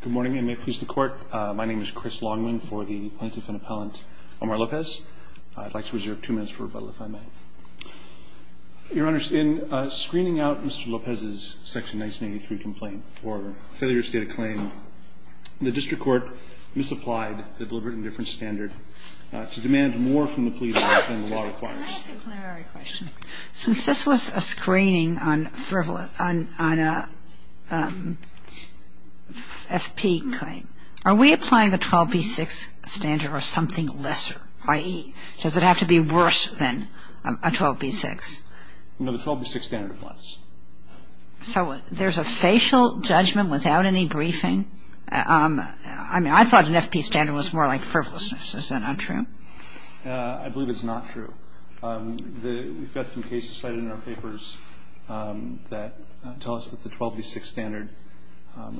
Good morning and may it please the court. My name is Chris Longman for the plaintiff and appellant Omar Lopez. I'd like to reserve two minutes for rebuttal if I may. Your Honor, in screening out Mr. Lopez's section 1983 complaint for failure to state a claim, the district court misapplied the deliberate indifference standard to demand more from the police than the law requires. Can I ask a plenary question? Since this was a screening on a FP claim, are we applying the 12B6 standard or something lesser, i.e., does it have to be worse than a 12B6? No, the 12B6 standard applies. So there's a facial judgment without any briefing? I mean, I thought an FP standard was more like frivolousness. Is that not true? I believe it's not true. We've got some cases cited in our papers that tell us that the 12B6 standard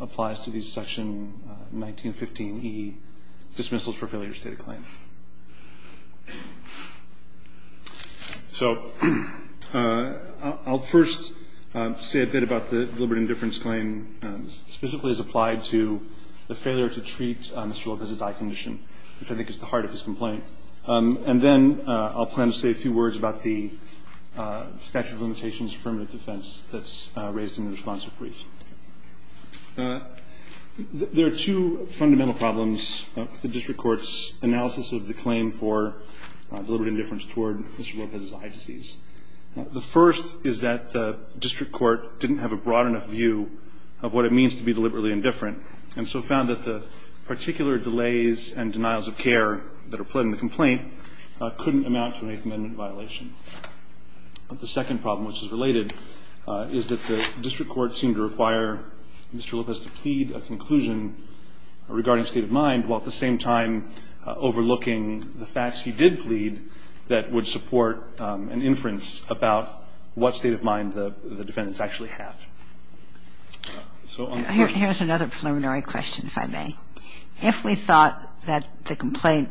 applies to these section 1915E dismissals for failure to state a claim. So I'll first say a bit about the deliberate indifference claim specifically as applied to the failure to treat Mr. Lopez's eye condition, which I think is the heart of his complaint. And then I'll plan to say a few words about the statute of limitations affirmative defense that's raised in the response to the brief. There are two fundamental problems with the district court's analysis of the claim for deliberate indifference toward Mr. Lopez's eye disease. The first is that the district court didn't have a broad enough view of what it means to be deliberately indifferent and so found that the particular delays and denials of care that are pled in the complaint couldn't amount to an Eighth Amendment violation. And the second problem, which is related, is that the district court seemed to require Mr. Lopez to plead a conclusion regarding state of mind, while at the same time overlooking the facts he did plead that would support an inference about what state of mind the defendants actually have. So on the court's view. Here's another preliminary question, if I may. If we thought that the complaint,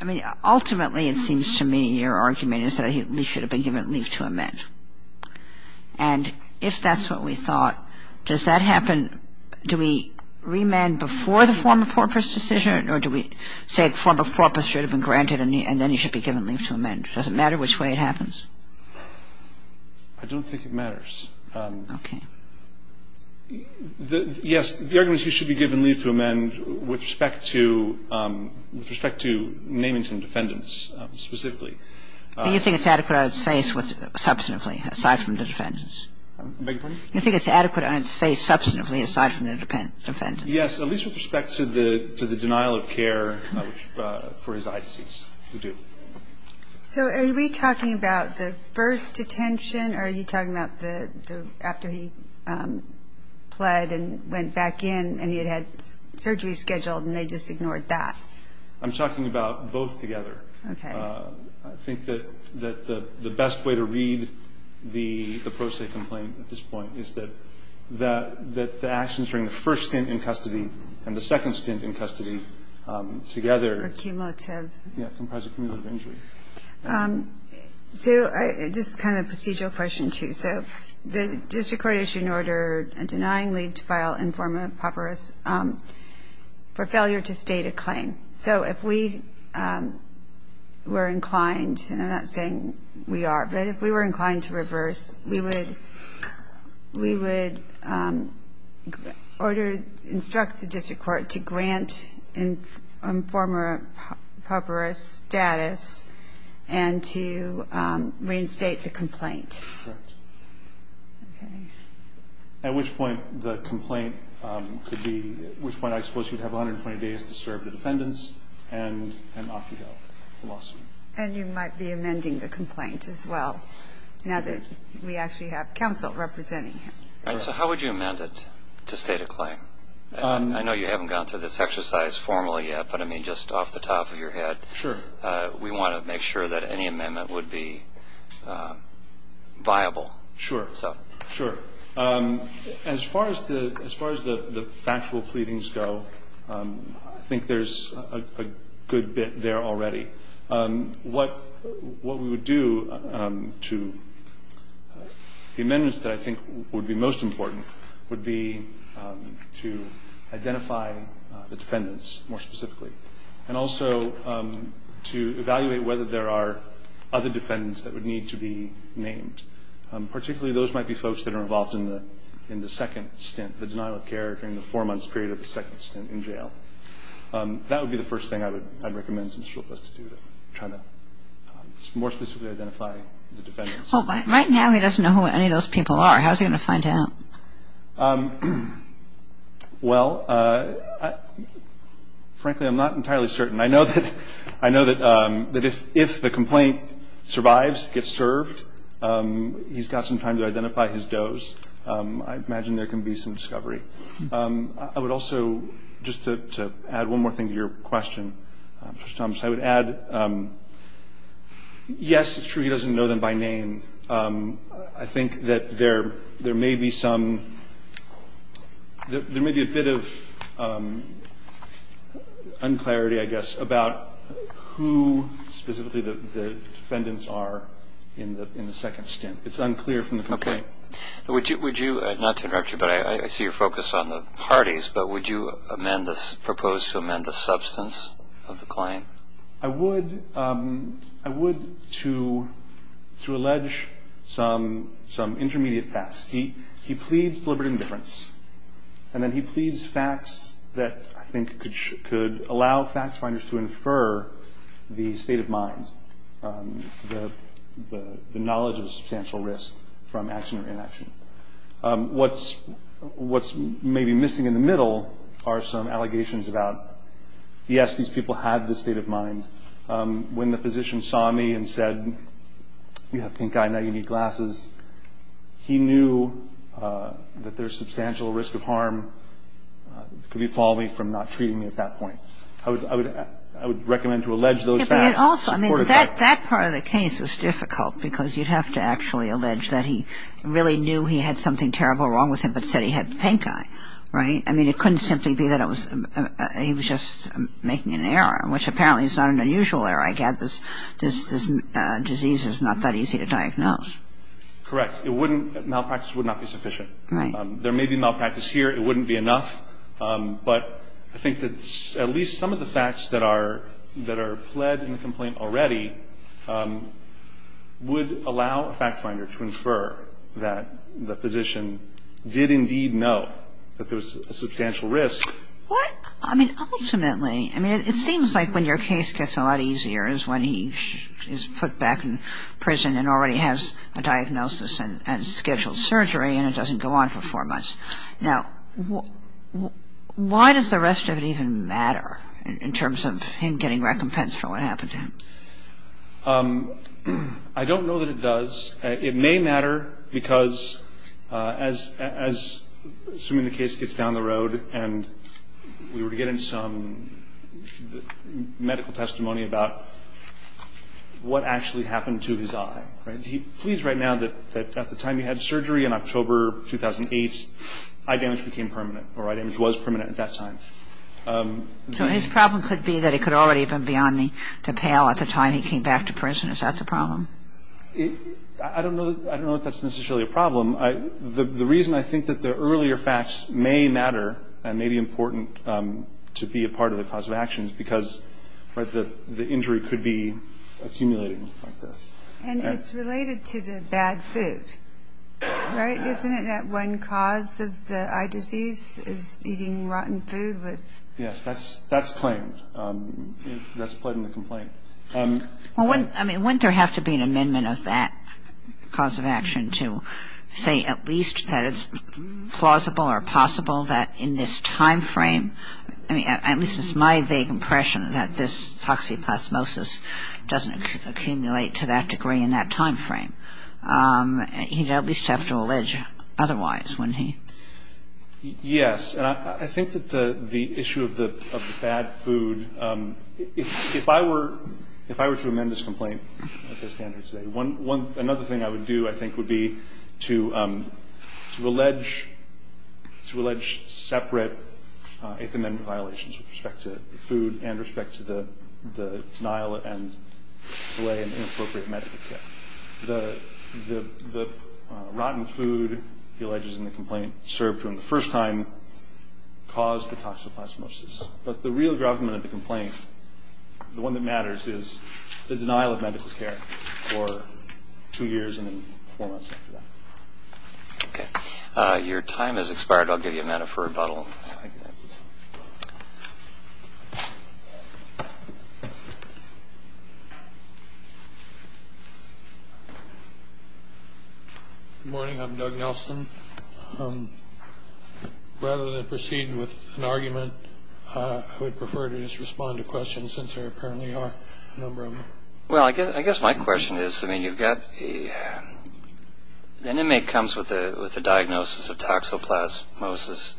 I mean, ultimately it seems to me your argument is that he should have been given leave to amend. And if that's what we thought, does that happen, do we remand before the form of corpus decision or do we say the form of corpus should have been granted and then he should be given leave to amend? Does it matter which way it happens? I don't think it matters. Okay. Yes. The argument is he should be given leave to amend with respect to naming some defendants specifically. Do you think it's adequate on its face substantively aside from the defendants? I beg your pardon? Do you think it's adequate on its face substantively aside from the defendants? Yes, at least with respect to the denial of care for his eye disease. We do. So are we talking about the first detention or are you talking about the, after he pled and went back in and he had had surgery scheduled and they just ignored that? I'm talking about both together. Okay. I think that the best way to read the pro se complaint at this point is that the actions during the first stint in custody and the second stint in custody together Are cumulative. Yeah. Comprised of cumulative injury. So this is kind of a procedural question, too. So the district court issued an order denying leave to file informa pauperous for failure to state a claim. So if we were inclined, and I'm not saying we are, but if we were inclined to reverse, we would order, instruct the district court to grant informer pauperous status and to reinstate the complaint. Correct. Okay. At which point the complaint could be, at which point I suppose you would have 120 days to serve the defendants and off you go. And you might be amending the complaint as well. Now that we actually have counsel representing him. All right. So how would you amend it to state a claim? I know you haven't gone through this exercise formally yet, but, I mean, just off the top of your head. Sure. We want to make sure that any amendment would be viable. Sure. So. Sure. As far as the factual pleadings go, I think there's a good bit there already. What we would do to, the amendments that I think would be most important would be to identify the defendants more specifically. And also to evaluate whether there are other defendants that would need to be named. Particularly those might be folks that are involved in the second stint, the denial of care during the four-month period of the second stint in jail. That would be the first thing I would recommend some struggles to do, to try to more specifically identify the defendants. Well, right now he doesn't know who any of those people are. How is he going to find out? Well, frankly, I'm not entirely certain. I know that if the complaint survives, gets served, he's got some time to identify his does. I imagine there can be some discovery. I would also, just to add one more thing to your question, Mr. Thomas, I would add yes, it's true he doesn't know them by name. I think that there may be some, there may be a bit of unclarity, I guess, about who specifically the defendants are in the second stint. It's unclear from the complaint. Okay. Would you, not to interrupt you, but I see you're focused on the parties, but would you amend this, propose to amend the substance of the claim? I would. I would to allege some intermediate facts. He pleads deliberate indifference. And then he pleads facts that I think could allow facts finders to infer the state of mind, the knowledge of substantial risk from action or inaction. What's maybe missing in the middle are some allegations about, yes, these people had the state of mind. When the physician saw me and said, you have pink eye, now you need glasses, he knew that there's substantial risk of harm. Could you follow me from not treating me at that point? I would recommend to allege those facts. But also, I mean, that part of the case is difficult, because you'd have to actually allege that he really knew he had something terrible wrong with him, but said he had pink eye, right? I mean, it couldn't simply be that it was he was just making an error, which apparently is not an unusual error. I get this disease is not that easy to diagnose. Correct. It wouldn't, malpractice would not be sufficient. Right. There may be malpractice here. It wouldn't be enough. But I think that at least some of the facts that are, that are pled in the complaint already would allow a fact finder to infer that the physician did indeed know that there was a substantial risk. What? I mean, ultimately, I mean, it seems like when your case gets a lot easier is when he is put back in prison and already has a diagnosis and scheduled surgery, and it doesn't go on for four months. Now, why does the rest of it even matter in terms of him getting recompense for what happened to him? I don't know that it does. It may matter because as soon as the case gets down the road and we were getting some medical testimony about what actually happened to his eye, right, he pleads right now that at the time he had surgery in October 2008, eye damage became permanent, or eye damage was permanent at that time. So his problem could be that it could already have been beyond me to pale at the time he came back to prison. Is that the problem? I don't know if that's necessarily a problem. The reason I think that the earlier facts may matter and may be important to be a part of the cause of action is because the injury could be accumulating like this. And it's related to the bad food, right? Isn't it that one cause of the eye disease is eating rotten food? Yes, that's claimed. That's pled in the complaint. I mean, wouldn't there have to be an amendment of that cause of action to say at least that it's plausible or possible that in this time frame, I mean, at least it's my vague impression that this toxoplasmosis doesn't accumulate to that degree in that time frame? He'd at least have to allege otherwise, wouldn't he? Yes. And I think that the issue of the bad food, if I were to amend this complaint, as I stand here today, another thing I would do, I think, would be to allege separate Eighth Amendment violations with respect to food and respect to the denial and delay in inappropriate medical care. The rotten food, he alleges in the complaint, served him the first time caused the toxoplasmosis. But the real government of the complaint, the one that matters, is the denial of medical care for two years and then four months after that. Your time has expired. I'll give you a minute for rebuttal. Morning. I'm Doug Nelson. Rather than proceed with an argument, I would prefer to just respond to questions since there apparently are a number of them. Well, I guess my question is, the inmate comes with a diagnosis of toxoplasmosis.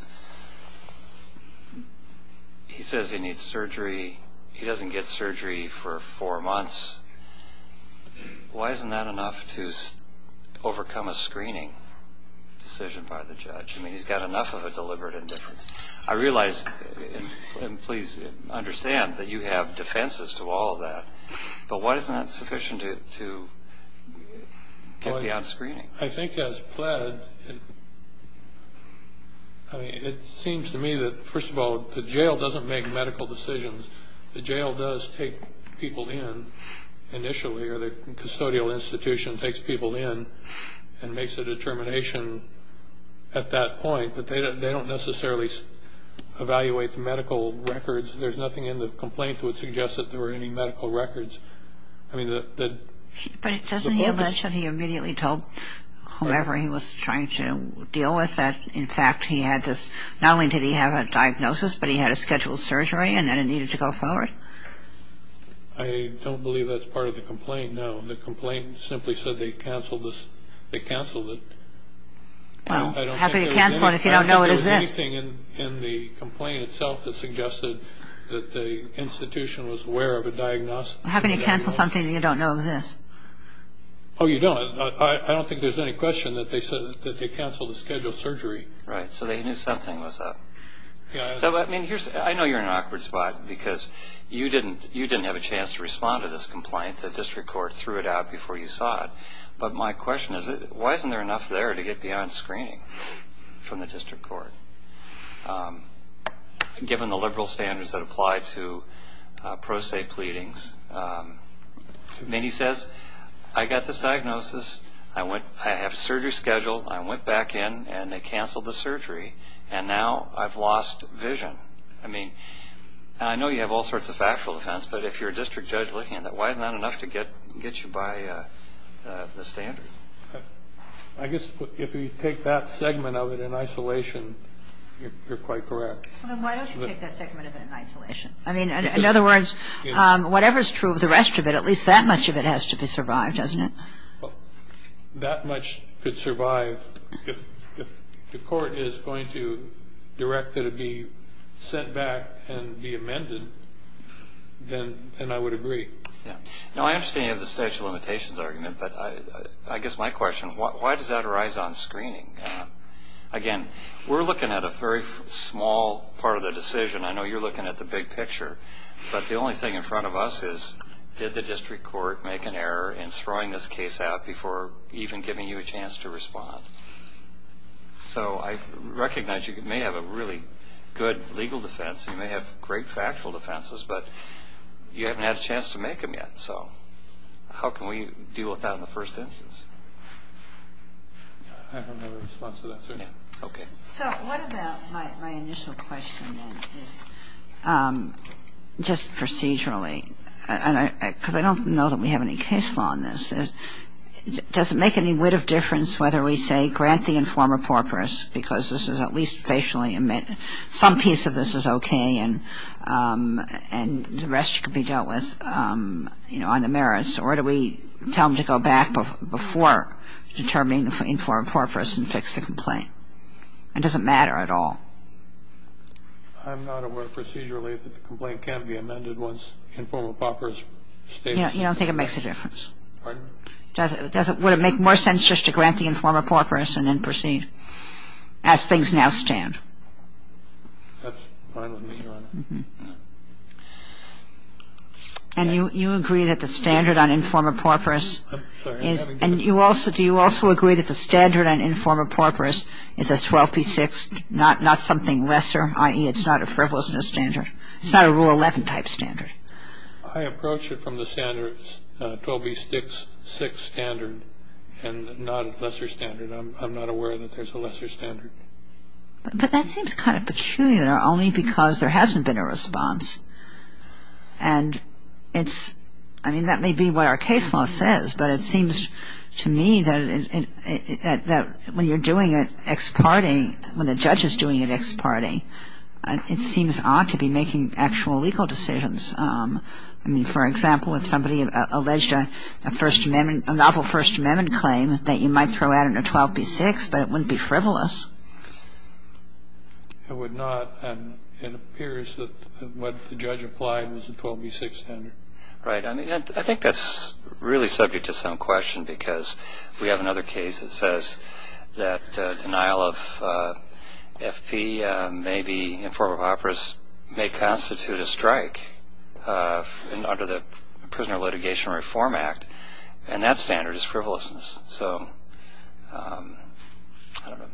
He says he needs surgery. He doesn't get surgery for four months. Why isn't that enough to overcome a screening decision by the judge? I mean, he's got enough of a deliberate indifference. I realize, and please understand, that you have defenses to all of that. But why isn't that sufficient to get the odd screening? I think as pled, I mean, it seems to me that, first of all, the jail doesn't make medical decisions. The jail does take people in initially, or the custodial institution takes people in and makes a determination at that point. But they don't necessarily evaluate the medical records. There's nothing in the complaint that would suggest that there were any medical records. But doesn't he mention he immediately told whoever he was trying to deal with that, in fact, he had this, not only did he have a diagnosis, but he had a scheduled surgery and that it needed to go forward? I don't believe that's part of the complaint, no. The complaint simply said they canceled it. Well, how can you cancel it if you don't know what it is? There's nothing in the complaint itself that suggested that the institution was aware of a diagnosis. How can you cancel something that you don't know exists? Oh, you don't. I don't think there's any question that they canceled the scheduled surgery. Right, so they knew something was up. I know you're in an awkward spot because you didn't have a chance to respond to this complaint. The district court threw it out before you saw it. But my question is, why isn't there enough there to get beyond screening from the district court, given the liberal standards that apply to pro se pleadings? He says, I got this diagnosis, I have surgery scheduled, I went back in and they canceled the surgery, and now I've lost vision. I mean, I know you have all sorts of factual defense, but if you're a district judge looking at that, why isn't that enough to get you by the standard? I guess if you take that segment of it in isolation, you're quite correct. Why don't you take that segment of it in isolation? I mean, in other words, whatever's true of the rest of it, at least that much of it has to be survived, doesn't it? That much could survive. If the court is going to direct it to be sent back and be amended, then I would agree. Now, I understand you have the statute of limitations argument, but I guess my question, why does that arise on screening? Again, we're looking at a very small part of the decision. I know you're looking at the big picture. But the only thing in front of us is, did the district court make an error in throwing this case out before even giving you a chance to respond? So I recognize you may have a really good legal defense, you may have great factual defenses, but you haven't had a chance to make them yet. So how can we deal with that in the first instance? I have another response to that, too. Okay. So what about my initial question, then, is just procedurally? Because I don't know that we have any case law on this. Does it make any weight of difference whether we say grant the informer porpoise, because this is at least facially admit some piece of this is okay and the rest can be dealt with, you know, on the merits, or do we tell them to go back before determining the informer porpoise and fix the complaint? It doesn't matter at all. I'm not aware procedurally that the complaint can be amended once the informer porpoise states it. You don't think it makes a difference? Pardon? Would it make more sense just to grant the informer porpoise and then proceed as things now stand? That's fine with me, Your Honor. And you agree that the standard on informer porpoise is – and do you also agree that the standard on informer porpoise is a 12B6, not something lesser, i.e. it's not a frivolousness standard? It's not a Rule 11 type standard. I approach it from the standard 12B6 standard and not a lesser standard. I'm not aware that there's a lesser standard. But that seems kind of peculiar only because there hasn't been a response. And it's – I mean, that may be what our case law says, but it seems to me that when you're doing it ex parte, when the judge is doing it ex parte, it seems odd to be making actual legal decisions. I mean, for example, if somebody alleged a First Amendment – but it wouldn't be frivolous. It would not. And it appears that what the judge applied was a 12B6 standard. Right. I mean, I think that's really subject to some question because we have another case that says that denial of FP may be – informer porpoise may constitute a strike under the Prisoner Litigation Reform Act, and that standard is frivolousness. So I don't know.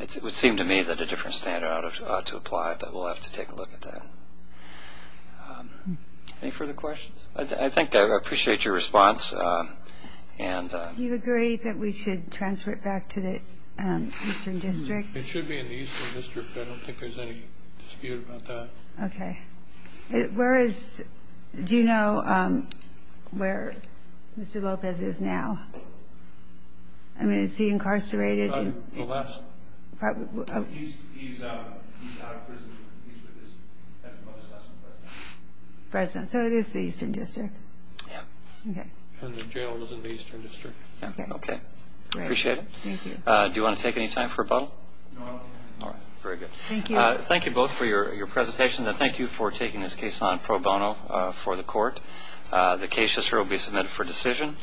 It would seem to me that a different standard ought to apply, but we'll have to take a look at that. Any further questions? I think I appreciate your response. Do you agree that we should transfer it back to the Eastern District? It should be in the Eastern District. I don't think there's any dispute about that. Okay. Okay. Where is – do you know where Mr. Lopez is now? I mean, is he incarcerated? The last – he's out of prison. He's with his mother's husband's president. President. So it is the Eastern District. Yeah. Okay. And the jail is in the Eastern District. Okay. Okay. Great. Appreciate it. Thank you. Do you want to take any time for a bubble? No, I'm okay. All right. Very good. Thank you. Thank you both for your presentation, and thank you for taking this case on pro bono for the court. The case will be submitted for decision.